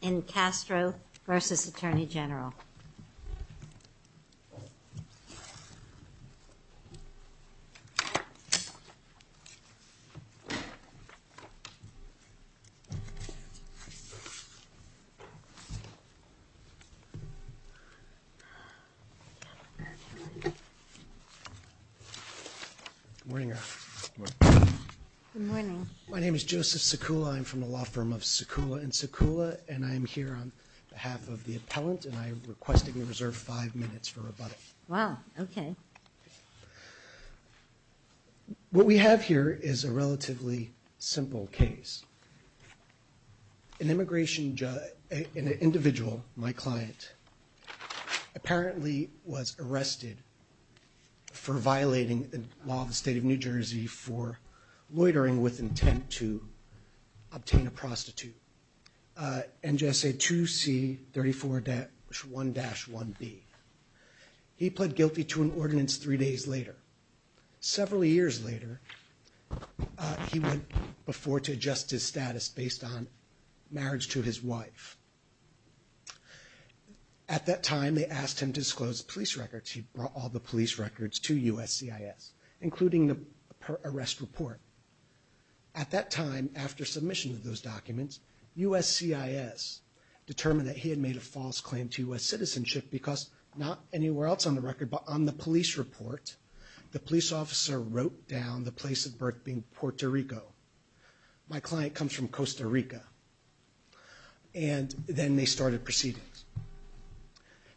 in Castro vs. Attorney General. Good morning. My name is Joseph Sekula. I'm from the law firm of Sekula & Sekula and I'm here on behalf of the appellant and I'm requesting a reserve five minutes for rebuttal. Wow, okay. What we have here is a relatively simple case. An immigration judge, an individual, my client, apparently was arrested for violating the law of the obtain a prostitute. NJSA 2C 34-1-1B. He pled guilty to an ordinance three days later. Several years later, he went before to adjust his status based on marriage to his wife. At that time, they asked him to disclose police records. He brought all the police records to USCIS, including the arrest report. At that time, after submission of those documents, USCIS determined that he had made a false claim to U.S. citizenship because, not anywhere else on the record, but on the police report, the police officer wrote down the place of birth being Puerto Rico. My client comes from Costa Rica. And then they started proceedings.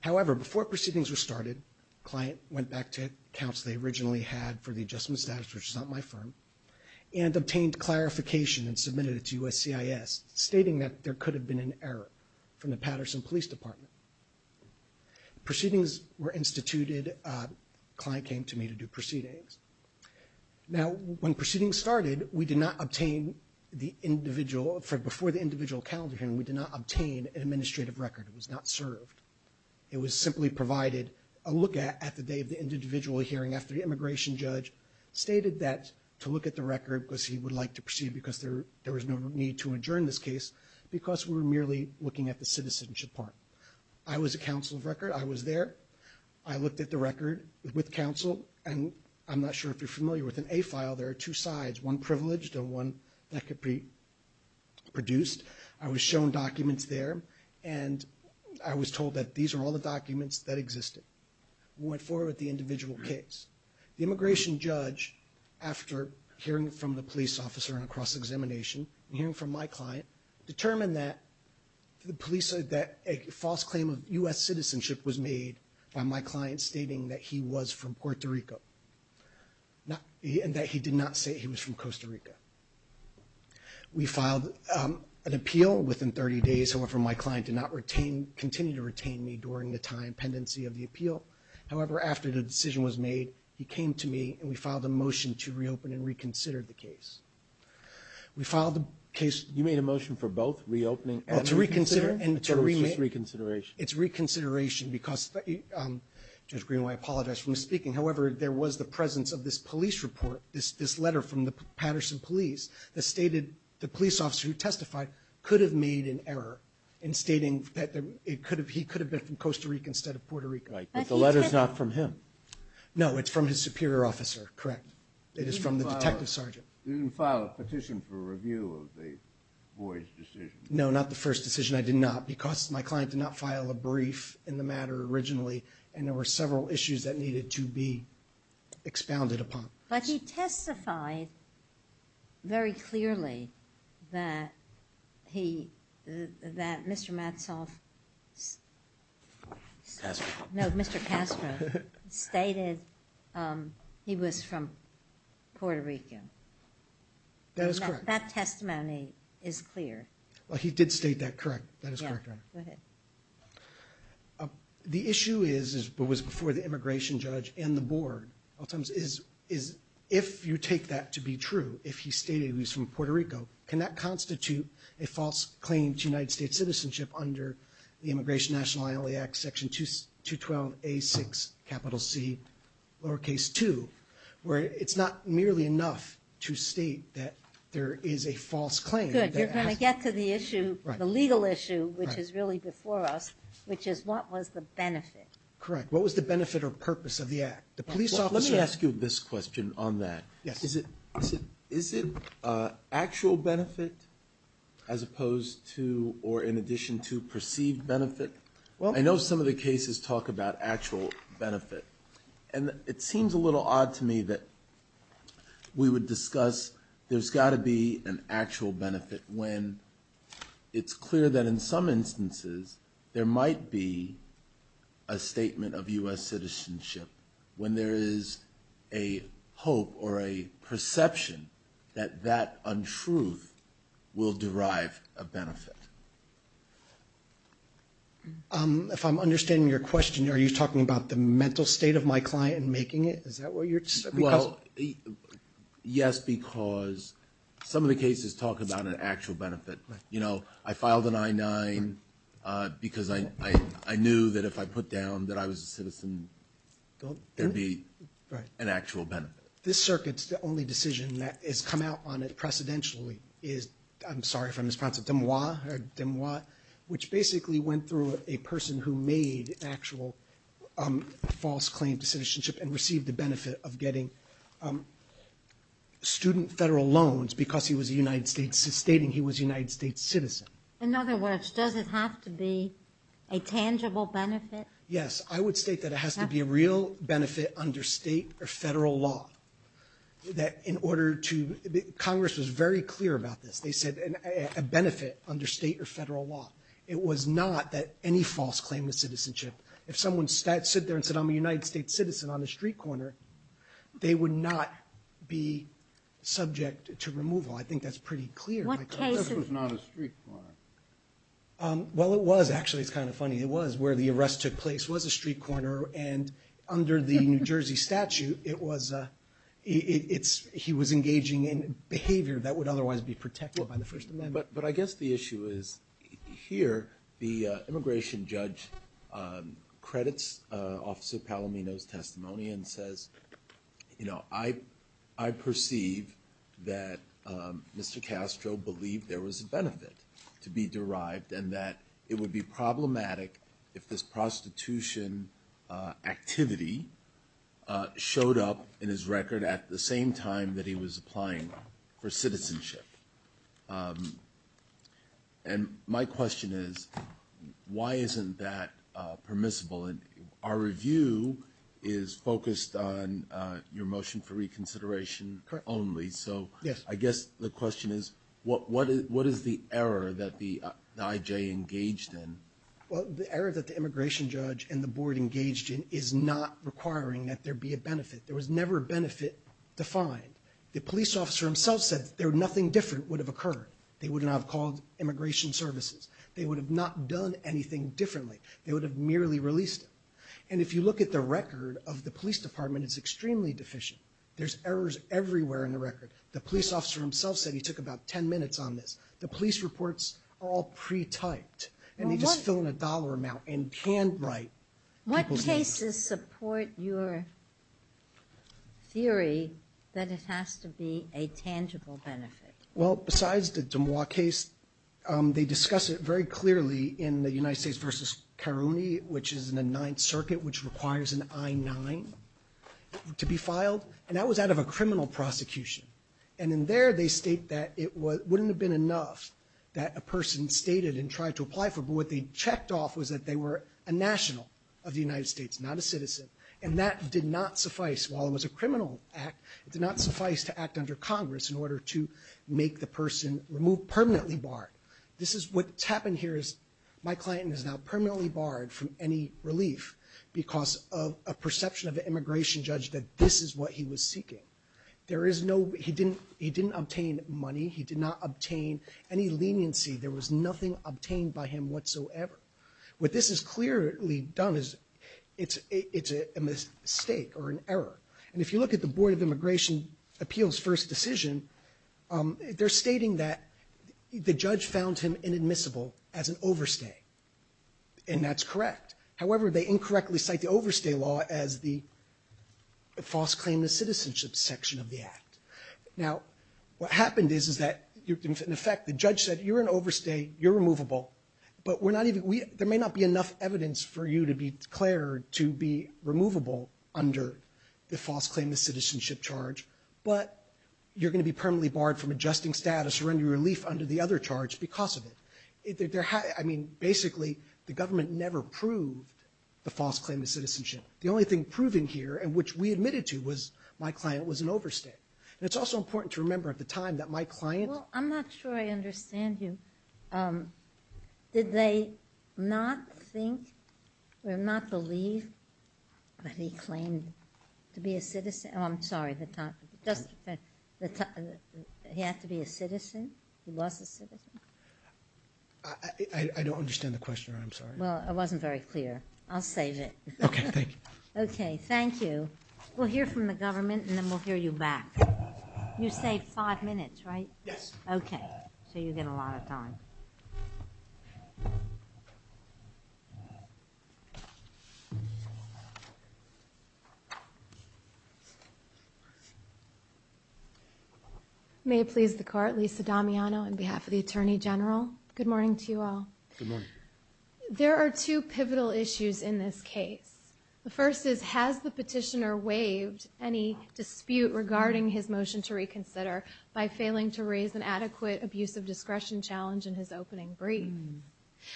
However, before proceedings were started, the client went back to accounts they originally had for the adjustment status, which is not my firm, and obtained clarification and submitted it to USCIS, stating that there could have been an error from the Patterson Police Department. Proceedings were instituted. The client came to me to do proceedings. Now, when proceedings started, we did not obtain the individual, before the individual calendar hearing, we was not served. It was simply provided a look at at the day of the individual hearing after the immigration judge stated that to look at the record, because he would like to proceed because there was no need to adjourn this case, because we were merely looking at the citizenship part. I was a counsel of record. I was there. I looked at the record with counsel. And I'm not sure if you're familiar with an A-file. There are two sides, one privileged and one that could be produced. I was shown documents there. And I was told that these are all the documents that existed. We went forward with the individual case. The immigration judge, after hearing from the police officer and a cross-examination, and hearing from my client, determined that the police said that a false claim of U.S. citizenship was made by my client stating that he was from Puerto Rico, and that he did not say he was from Costa Rica. We filed an appeal within 30 days. However, my client did not retain, continue to retain me during the time pendency of the appeal. However, after the decision was made, he came to me, and we filed a motion to reopen and reconsider the case. We filed the case. You made a motion for both, reopening and reconsider? To reconsider and to remake. I thought it was just reconsideration. It's reconsideration because, Judge Greenway, I apologize for misspeaking. However, there was the presence of this police report, this letter from the Patterson police that stated the police officer who testified could have made an error in stating that he could have been from Costa Rica instead of Puerto Rico. Right. But the letter's not from him. No, it's from his superior officer. Correct. It is from the detective sergeant. You didn't file a petition for review of the Boyd's decision? No, not the first decision. I did not. Because my client did not file a brief in the matter originally, and there were several issues that needed to be expounded upon. But he testified very clearly that he, that Mr. Matzoff... Castro. No, Mr. Castro stated he was from Puerto Rico. That is correct. That testimony is clear. Well, he did state that correct. That is correct. Go ahead. The issue is, but was before the immigration judge and the board, is if you take that to be true, if he stated he was from Puerto Rico, can that constitute a false claim to United States citizenship under the Immigration Nationality Act Section 212A6C2, where it's not merely enough to state that there is a false claim. Good. You're going to get to the issue, the legal issue, which is really before us, which is what was the benefit? Correct. What was the benefit or purpose of the act? The police officer... Let me ask you this question on that. Yes. Is it actual benefit as opposed to or in addition to perceived benefit? Well... I know some of the cases talk about actual benefit, and it seems a little odd to me that we would discuss there's got to be an actual benefit when it's clear that in some instances there might be a statement of U.S. citizenship when there is a hope or a perception that that untruth will derive a benefit. If I'm understanding your question, are you talking about the mental state of my client in making it? Well, yes, because some of the cases talk about an actual benefit. You know, I filed an I-9 because I knew that if I put down that I was a citizen, there'd be an actual benefit. This circuit's the only decision that has come out on it precedentially is, I'm sorry if I'm mispronouncing, Demois, which basically went through a person who made an actual false claim to citizenship and received the benefit of getting student federal loans because he was a United States, stating he was a United States citizen. In other words, does it have to be a tangible benefit? Yes. I would state that it has to be a real benefit under state or federal law that in order to... Congress was very clear about this. They said a benefit under state or federal law. It was not that any false claim to citizenship. If someone sat there and said, I'm a United States citizen on the street corner, they would not be subject to removal. I think that's pretty clear. This was not a street corner. Well, it was. Actually, it's kind of funny. It was. Where the arrest took place was a street corner, and under the New Jersey statute, he was engaging in behavior that would otherwise be protected by the First Amendment. But I guess the issue is here, the immigration judge credits Officer Palomino's testimony and says, I perceive that Mr. Castro believed there was a benefit to be derived and that it would be problematic if this prostitution activity showed up in his record at the same time that he was applying for citizenship. And my question is, why isn't that permissible? Our review is focused on your motion for reconsideration only. So I guess the question is, what is the error that the IJ engaged in? Well, the error that the immigration judge and the board engaged in is not requiring that there be a benefit. There was never a benefit defined. The police officer himself said that nothing different would have occurred. They would not have called immigration services. They would have not done anything differently. They would have merely released him. And if you look at the record of the police department, it's extremely deficient. There's errors everywhere in the record. The police officer himself said he took about 10 minutes on this. The police reports are all pre-typed, and they just fill in a dollar amount and handwrite people's names. What cases support your theory that it has to be a tangible benefit? Well, besides the Dumois case, they discuss it very clearly in the United States v. Caroni, which is in the Ninth Circuit, which requires an I-9 to be filed. And that was out of a criminal prosecution. And in there, they state that it wouldn't have been enough that a person stated and tried to apply for, but what they checked off was that they were a national of the United States, not a citizen, and that did not suffice. While it was a criminal act, it did not suffice to act under Congress in order to make the person removed permanently barred. What's happened here is my client is now permanently barred from any relief because of a perception of the immigration judge that this is what he was seeking. He didn't obtain money. He did not obtain any leniency. There was nothing obtained by him whatsoever. What this has clearly done is it's a mistake or an error. And if you look at the Board of Immigration Appeals' first decision, they're stating that the judge found him inadmissible as an overstay, and that's correct. However, they incorrectly cite the overstay law as the false claim to citizenship section of the act. Now, what happened is, is that, in effect, the judge said, you're an overstay, you're removable, but we're not even, we, there may not be enough evidence for you to be declared to be removable under the false claim to citizenship charge, but you're going to be permanently barred from adjusting status or any relief under the other charge because of it. I mean, basically, the government never proved the false claim to citizenship. The only thing proven here, and which we admitted to, was my client was an overstay. And it's also important to remember at the time that my client... I don't understand you. Did they not think or not believe that he claimed to be a citizen? Oh, I'm sorry. He had to be a citizen? He was a citizen? I don't understand the question, I'm sorry. Well, it wasn't very clear. I'll save it. Okay, thank you. Okay, thank you. We'll hear from the government, and then we'll hear you back. You saved five minutes, right? Yes. Okay, so you get a lot of time. May it please the Court, Lisa Damiano on behalf of the Attorney General. Good morning to you all. Good morning. There are two pivotal issues in this case. The first is, has the petitioner waived any dispute regarding his motion to reconsider by failing to raise an adequate abuse of discretion challenge in his opening brief?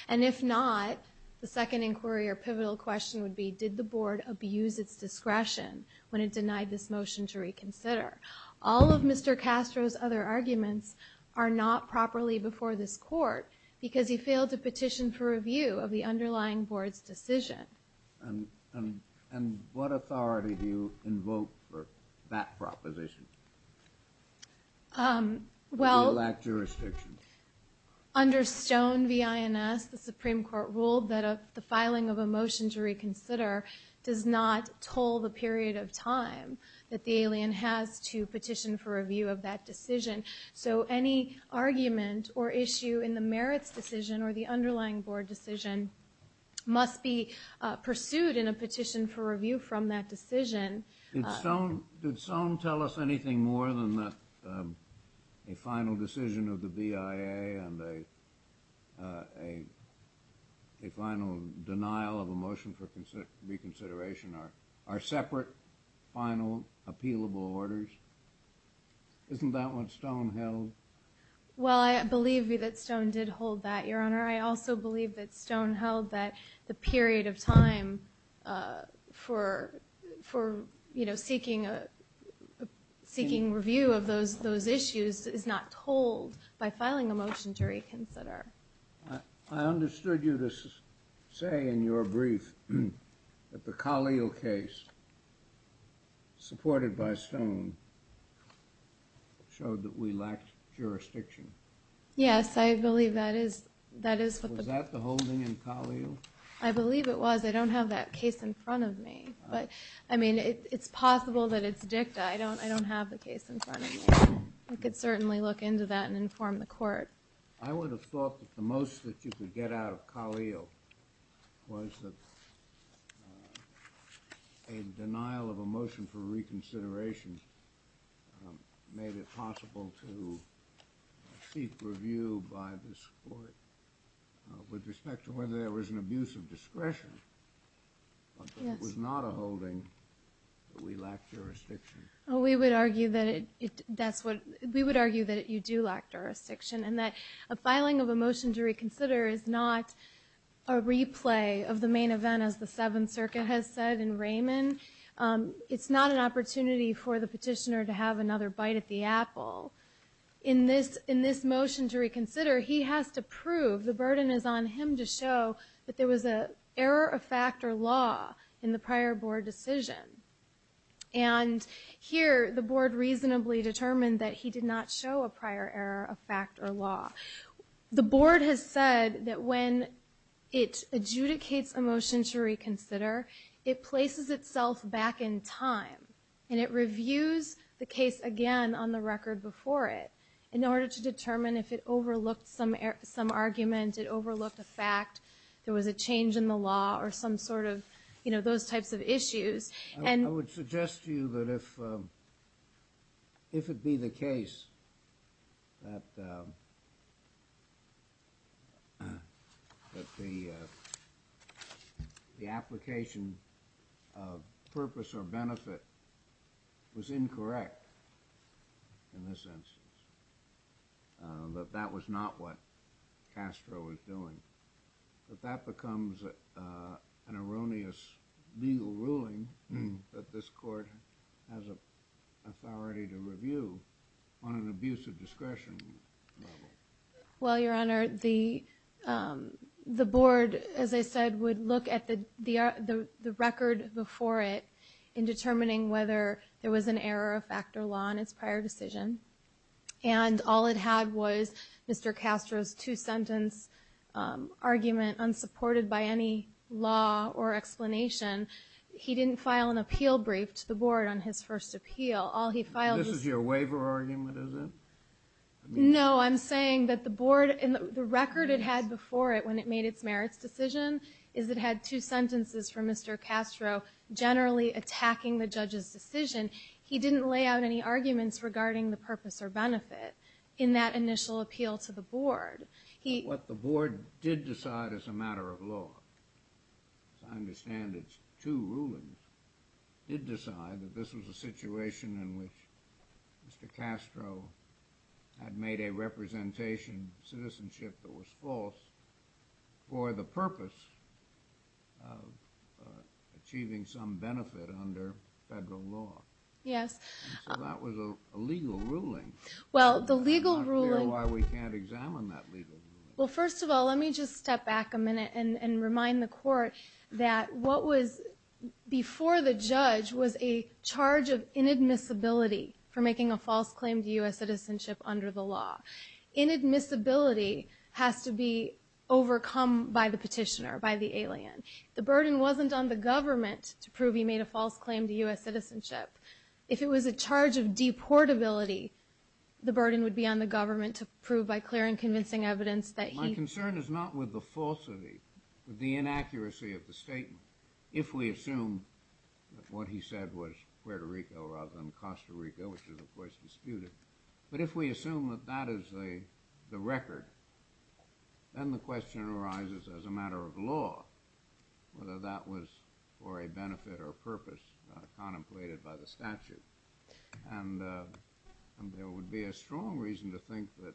And if not, the second inquiry or pivotal question would be, did the Board abuse its discretion when it denied this motion to reconsider? All of Mr. Castro's other arguments are not properly before this Court because he failed to petition for review of the underlying Board's decision. And what authority do you invoke for that proposition? Um, well... Do you lack jurisdiction? Under Stone v. INS, the Supreme Court ruled that the filing of a motion to reconsider does not toll the period of time that the alien has to petition for review of that decision. So any argument or issue in the merits decision or the underlying Board decision must be pursued in a petition for review from that decision. Did Stone tell us anything more than that a final decision of the BIA and a final denial of a motion for reconsideration are separate, final, appealable orders? Isn't that what Stone held? Well, I believe that Stone did hold that, Your Honor. I also believe that Stone held that the period of time for, you know, seeking review of those issues is not tolled by filing a motion to reconsider. I understood you to say in your brief that the Khalil case, supported by Stone, showed that we lacked jurisdiction. Yes, I believe that is... Was that the holding in Khalil? I believe it was. I don't have that case in front of me. But, I mean, it's possible that it's dicta. I don't have the case in front of me. I could certainly look into that and inform the Court. I would have thought that the most that you could get out of Khalil was that a denial of a motion for reconsideration made it possible to seek review by this Court with respect to whether there was an abuse of discretion. Yes. It was not a holding, but we lacked jurisdiction. Well, we would argue that it... That's what... We would argue that you do lack jurisdiction and that a filing of a motion to reconsider is not a replay of the main event, as the Seventh Circuit has said in Raymond. It's not an opportunity for the petitioner to have another bite at the apple. In this motion to reconsider, he has to prove... The burden is on him to show that there was an error of fact or law in the prior Board decision. And here, the Board reasonably determined that he did not show a prior error of fact or law. The Board has said that when it adjudicates a motion to reconsider, it places itself back in time, and it reviews the case again on the record before it in order to determine if it overlooked some argument, it overlooked a fact, there was a change in the law, or some sort of, you know, those types of issues. ...that, um... that the, uh... the application of purpose or benefit was incorrect in this instance, that that was not what Castro was doing. But that becomes an erroneous legal ruling that this court has authority to review on an abuse of discretion level. Well, Your Honor, the Board, as I said, would look at the record before it in determining whether there was an error of fact or law in its prior decision, and all it had was Mr. Castro's two-sentence argument unsupported by any law or explanation. He didn't file an appeal brief to the Board on his first appeal. This is your waiver argument, is it? No, I'm saying that the Board, and the record it had before it when it made its merits decision, is it had two sentences from Mr. Castro generally attacking the judge's decision. He didn't lay out any arguments regarding the purpose or benefit in that initial appeal to the Board. But what the Board did decide as a matter of law, as I understand it, two rulings did decide that this was a situation in which Mr. Castro had made a representation of citizenship that was false for the purpose of achieving some benefit under federal law. Yes. So that was a legal ruling. Well, the legal ruling... It's not clear why we can't examine that legal ruling. and remind the Court that what was before the judge was a charge of inadmissibility for making a false claim to U.S. citizenship under the law. Inadmissibility has to be overcome by the petitioner, by the alien. The burden wasn't on the government to prove he made a false claim to U.S. citizenship. If it was a charge of deportability, the burden would be on the government to prove by clear and convincing evidence that he... My concern is not with the falsity, but the inaccuracy of the statement. If we assume that what he said was Puerto Rico rather than Costa Rica, which is, of course, disputed, but if we assume that that is the record, then the question arises as a matter of law whether that was for a benefit or purpose contemplated by the statute. And there would be a strong reason to think that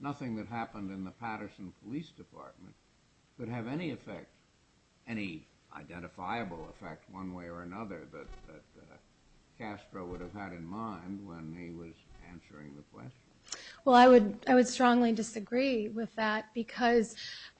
nothing that happened in the Patterson Police Department could have any effect, any identifiable effect one way or another that Castro would have had in mind when he was answering the question. Well, I would strongly disagree with that because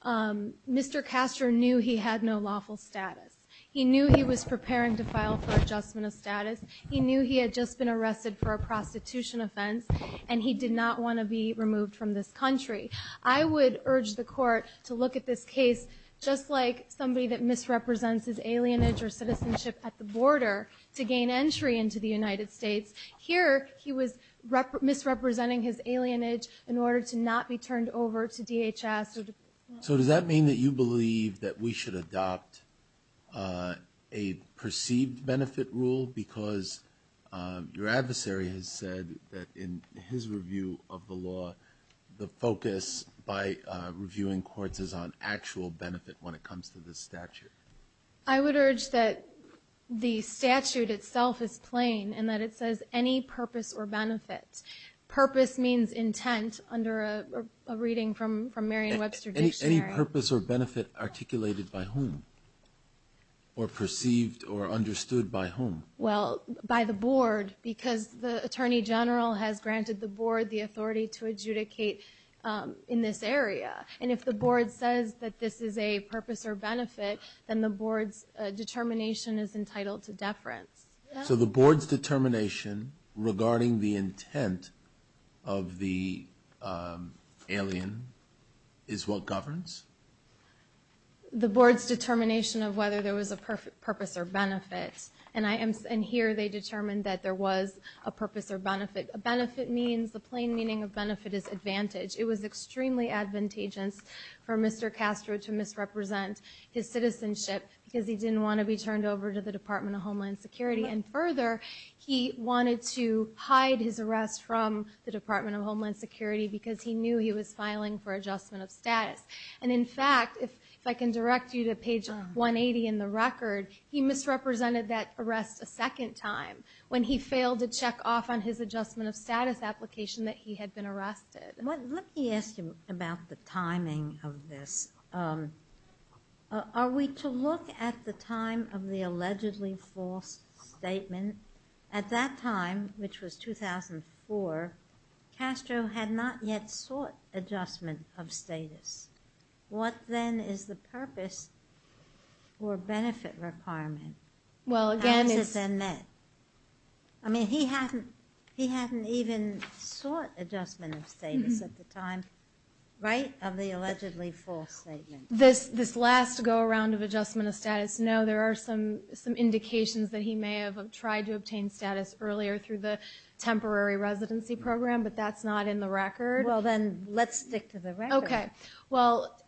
Mr. Castro knew he had no lawful status. He knew he was preparing to file for adjustment of status. He knew he had just been arrested for a prostitution offense, and he did not want to be removed from this country. I would urge the court to look at this case just like somebody that misrepresents his alienage or citizenship at the border to gain entry into the United States. Here, he was misrepresenting his alienage in order to not be turned over to DHS. So does that mean that you believe that we should adopt a perceived benefit rule because your adversary has said that in his review of the law the focus by reviewing courts is on actual benefit when it comes to this statute? I would urge that the statute itself is plain and that it says any purpose or benefit. Purpose means intent under a reading from Merriam-Webster dictionary. Any purpose or benefit articulated by whom? Or perceived or understood by whom? Well, by the board because the attorney general has granted the board the authority to adjudicate in this area. And if the board says that this is a purpose or benefit, then the board's determination is entitled to deference. So the board's determination regarding the intent of the alien is what governs? The board's determination of whether there was a purpose or benefit. And here they determined that there was a purpose or benefit. A benefit means the plain meaning of benefit is advantage. It was extremely advantageous for Mr. Castro to misrepresent his citizenship because he didn't want to be turned over to the Department of Homeland Security. And further, he wanted to hide his arrest from the Department of Homeland Security because he knew he was filing for adjustment of status. And in fact, if I can direct you to page 180 in the record, he misrepresented that arrest a second time when he failed to check off on his adjustment of status application that he had been arrested. Let me ask you about the timing of this. Are we to look at the time of the allegedly false statement? At that time, which was 2004, Castro had not yet sought adjustment of status. What then is the purpose or benefit requirement? Well, again, it's... I mean, he hadn't even sought adjustment of status at the time, right? Of the allegedly false statement. This last go-around of adjustment of status, no, there are some indications that he may have tried to obtain status earlier through the temporary residency program, but that's not in the record. Well, then, let's stick to the record. Okay, well,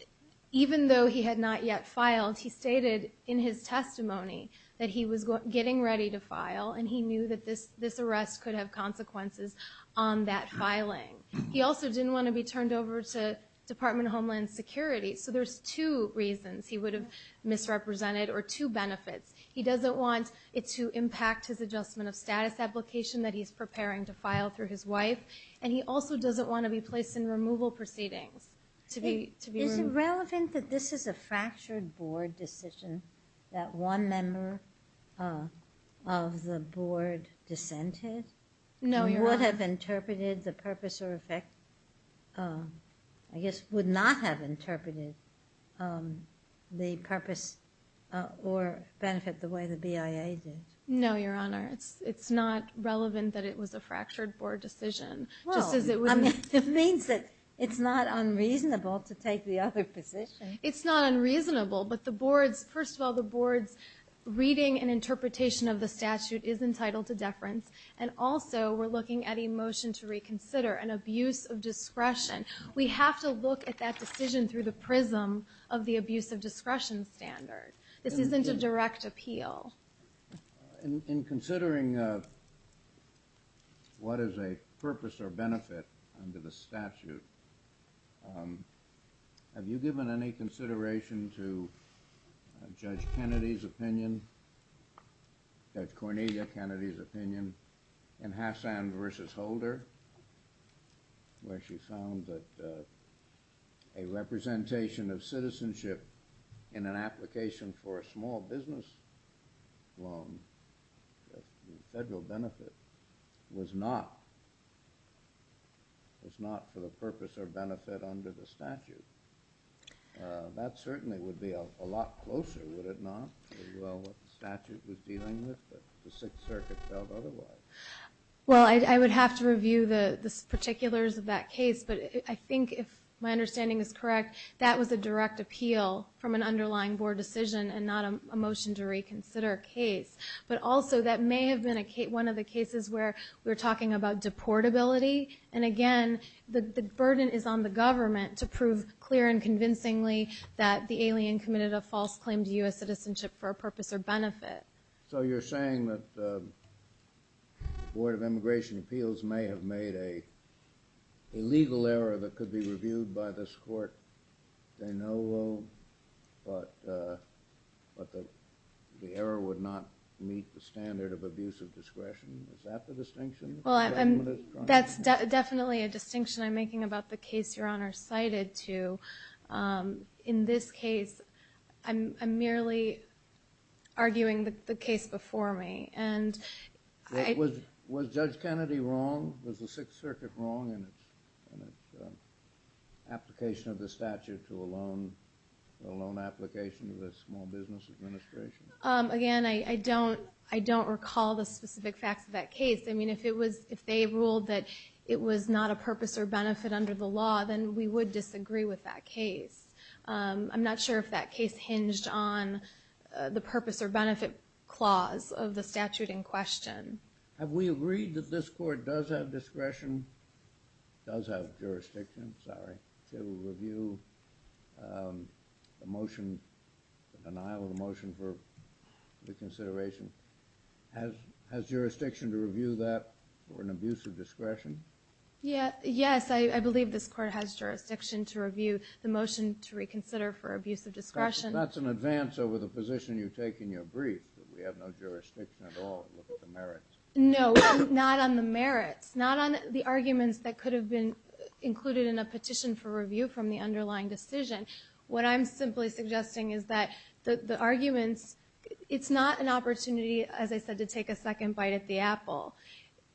even though he had not yet filed, he stated in his testimony that he was getting ready to file and he knew that this arrest could have consequences on that filing. He also didn't want to be turned over to Department of Homeland Security, so there's two reasons he would have misrepresented or two benefits. He doesn't want it to impact his adjustment of status application that he's preparing to file through his wife, and he also doesn't want to be placed in removal proceedings. Is it relevant that this is a fractured board decision that one member of the board dissented? No, Your Honor. He would have interpreted the purpose or effect... I guess would not have interpreted the purpose or benefit the way the BIA did. No, Your Honor, it's not relevant that it was a fractured board decision, just as it would... It means that it's not unreasonable to take the other position. It's not unreasonable, but the board's... First of all, the board's reading and interpretation of the statute is entitled to deference, and also we're looking at a motion to reconsider an abuse of discretion. We have to look at that decision through the prism of the abuse of discretion standard. This isn't a direct appeal. In considering what is a purpose or benefit under the statute, have you given any consideration to Judge Kennedy's opinion, Judge Cornelia Kennedy's opinion, in Hassan v. Holder, where she found that a representation of citizenship in an application for a small business loan with federal benefit was not for the purpose or benefit under the statute? That certainly would be a lot closer, would it not, to what the statute was dealing with that the Sixth Circuit felt otherwise? Well, I would have to review the particulars of that case, but I think if my understanding is correct, that was a direct appeal from an underlying board decision and not a motion to reconsider a case. But also, that may have been one of the cases where we're talking about deportability, and again, the burden is on the government to prove clear and convincingly that the alien committed a false claim to U.S. citizenship for a purpose or benefit. So you're saying that the Board of Immigration Appeals may have made a legal error that could be reviewed by this court saying no loan, but the error would not meet the standard of abuse of discretion. Is that the distinction? Well, that's definitely a distinction I'm making about the case Your Honor cited, too. In this case, I'm merely arguing the case before me. Was Judge Kennedy wrong? Was the Sixth Circuit wrong in its application of the statute to a loan application to the Small Business Administration? Again, I don't recall the specific facts of that case. I mean, if they ruled that it was not a purpose or benefit under the law, then we would disagree with that case. I'm not sure if that case hinged on the purpose or benefit clause of the statute in question. Have we agreed that this court does have discretion, does have jurisdiction, sorry, to review the motion, the denial of the motion for reconsideration? Has jurisdiction to review that for an abuse of discretion? Yes, I believe this court has jurisdiction to review the motion to reconsider for abuse of discretion. That's an advance over the position you take in your brief that we have no jurisdiction at all to look at the merits. No, not on the merits. Not on the arguments that could have been included in a petition for review from the underlying decision. What I'm simply suggesting is that the arguments, it's not an opportunity, as I said, to take a second bite at the apple.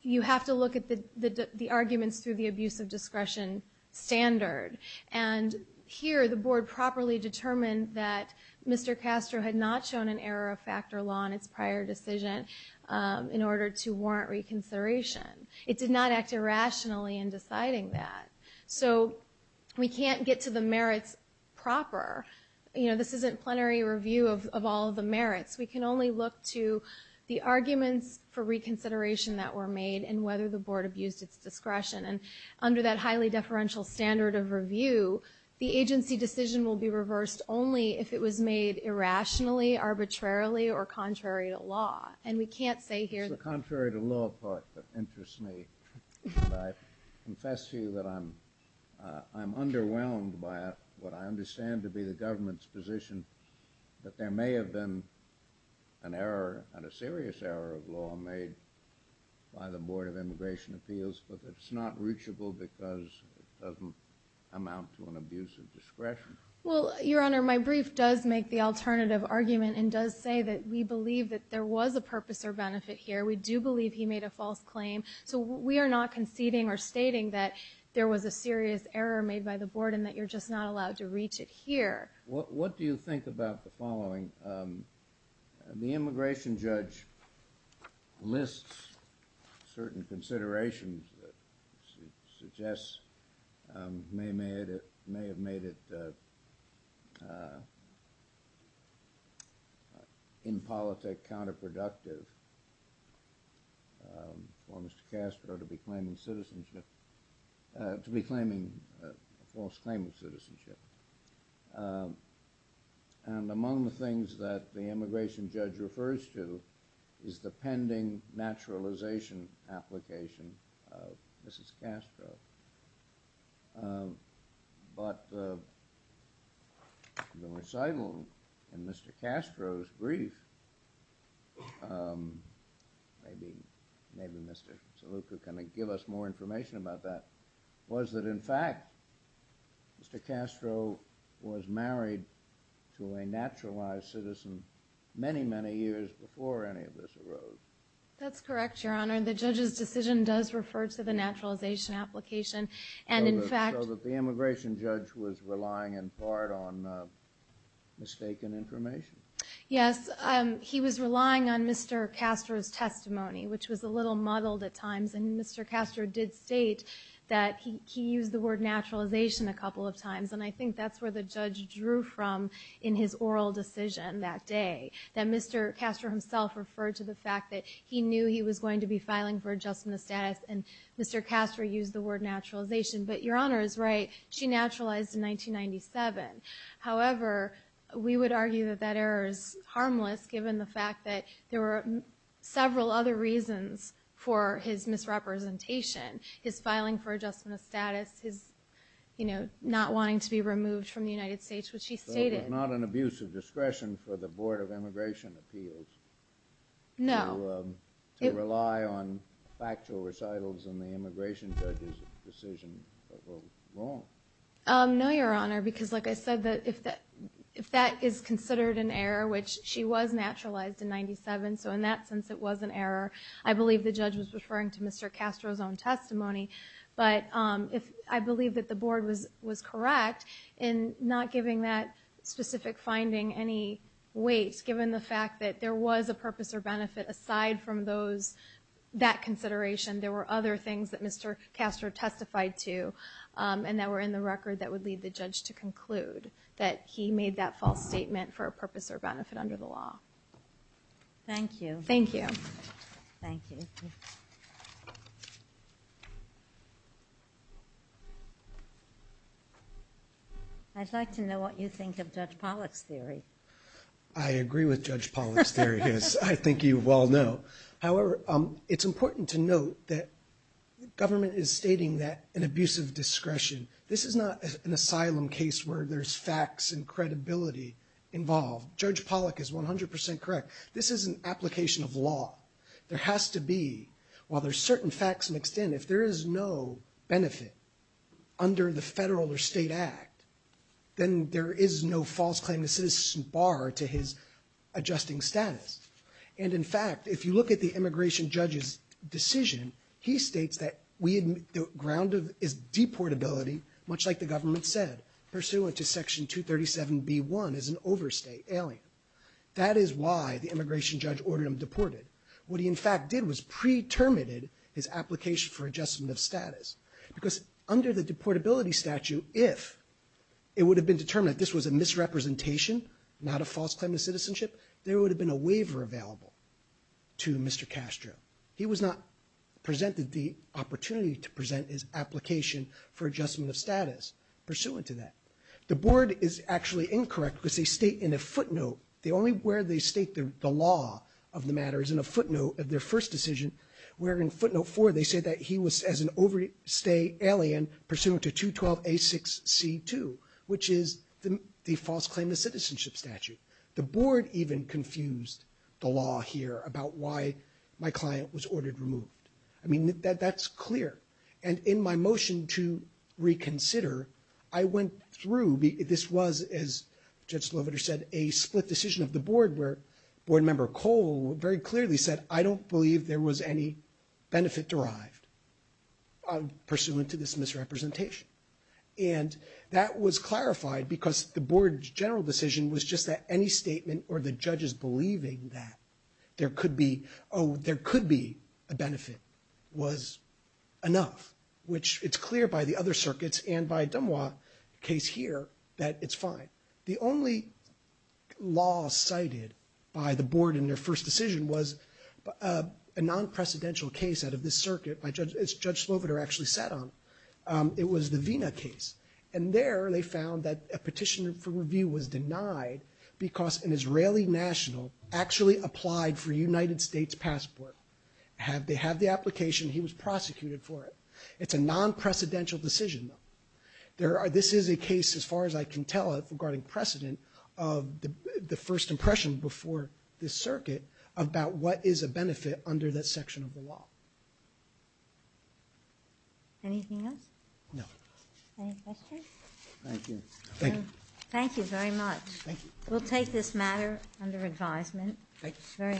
You have to look at the arguments through the abuse of discretion standard. And here, the board properly determined that Mr. Castro had not shown an error of factor law in its prior decision in order to warrant reconsideration. It did not act irrationally in deciding that. So, we can't get to the merits proper. You know, this isn't plenary review of all of the merits. We can only look to the arguments for reconsideration that were made and whether the board abused its discretion. And under that highly deferential standard of review, the agency decision will be reversed only if it was made irrationally, arbitrarily, or contrary to law. And we can't say here that... It's the contrary to law part that interests me. I confess to you that I'm I'm underwhelmed by what I understand to be the government's position that there may have been an error and a serious error of law made by the Board of Immigration Appeals but it's not reachable because it doesn't amount to an abuse of discretion. Well, Your Honor, my brief does make the alternative argument and does say that we believe that there was a purpose or benefit here. We do believe he made a false claim. So we are not conceding or stating that there was a serious error made by the Board and that you're just not allowed to reach it here. What do you think about the following? The immigration judge lists certain considerations that suggests may have made it in politic counterproductive for Mr. Castro to be claiming citizenship to be claiming a false claim of citizenship and among the things is the pending naturalization application of Mrs. Castro but I don't think that the immigration judge is making a false claim of citizenship and the recital in Mr. Castro's brief maybe maybe Mr. Saluka can give us more information about that was that in fact Mr. Castro was married to a naturalized citizen many, many years before any of this arose. That's correct, Your Honor. The judge's decision does refer to the naturalization application and in fact so that the immigration judge was relying in part on mistaken information? Yes, he was relying on Mr. Castro's testimony which was a little muddled at times and Mr. Castro did state that he used the word naturalization a couple of times and I think that's where the judge drew from in his oral decision that day that Mr. Castro himself referred to the fact that he knew he was going to be filing for adjustment of status and Mr. Castro used the word naturalization but Your Honor is right, she naturalized in 1997. However, we would argue that that error is harmless given the fact that there were several other reasons for his misrepresentation, his filing for adjustment of status, his not wanting to be removed from the United States which he stated. So it was not an abuse of discretion for the Board of Immigration Appeals to rely on factual recitals in the immigration judge's decision of what was wrong. No Your Honor because like I said that if that is considered an error which she was naturalized in 1997 so in that sense it was an error. I believe the judge was referring to Mr. Castro's own testimony but I believe that the Board was correct in not giving that specific finding any weight given the fact that there was a purpose or benefit aside from that consideration there were other things that Mr. Castro testified to and that were in the record that would lead the judge to conclude that he made that false statement for a purpose or benefit under the law. Thank you. Thank you. Thank you. I'd like to know what you think of Judge Pollack's theory. I agree with Judge Pollack's theory as I think you well know. However it's important to note that government is stating that an abusive discretion this is not an asylum case where there's facts and credibility involved. Judge Pollack is 100 percent correct. This is an application of law. There has to be while there's certain facts mixed in if there is no benefit under the federal or state act then there is no false claim the citizen bar to his adjusting status and in fact if you look at the immigration judge's decision he states that we admit the ground is deportability much like the government said pursuant to Section 237B1 is an overstate alien. That is why the immigration judge ordered him deported. What he in fact did was pre-terminated his application for adjustment of status because under the deportability statute if it would have been determined this was a misrepresentation not a false claim to citizenship there would have been a waiver available to Mr. Castro. He was not presented the opportunity to present his application for adjustment of status pursuant to that. The board is actually incorrect because they state in a footnote the only where they state the law of the matter is in a footnote of their first decision where in footnote 4 they say he was as an overstate alien pursuant to 212A6C2 which is the false claim to citizenship statute. The board even confused the law here about why my client was ordered removed. I mean that's clear and in my motion to reconsider I went through this was a split decision of the board where board member Cole very clearly said I don't believe there was any benefit derived pursuant to this misrepresentation and that was clarified because the board's general decision was just that any statement or the judges believing that there could be a benefit was enough which it's clear by the other circuits and by Dumois case here that it's fine. The only law cited by the board in their first decision was a non-precedential case out of this circuit as Judge Sloveder actually sat on. It was the Vena case and there they found that a petition for review was denied because an Israeli national actually applied for a United States passport. They have the application. He was prosecuted for it. It's a non-precedential decision. There are this is a case as far as I can tell it regarding precedent of the first impression before this circuit about what is a benefit under this section of the law. Anything else? No. Any questions? Thank you. Thank you. Thank you very much. Thank you. We'll take this matter under advisement. Thank you.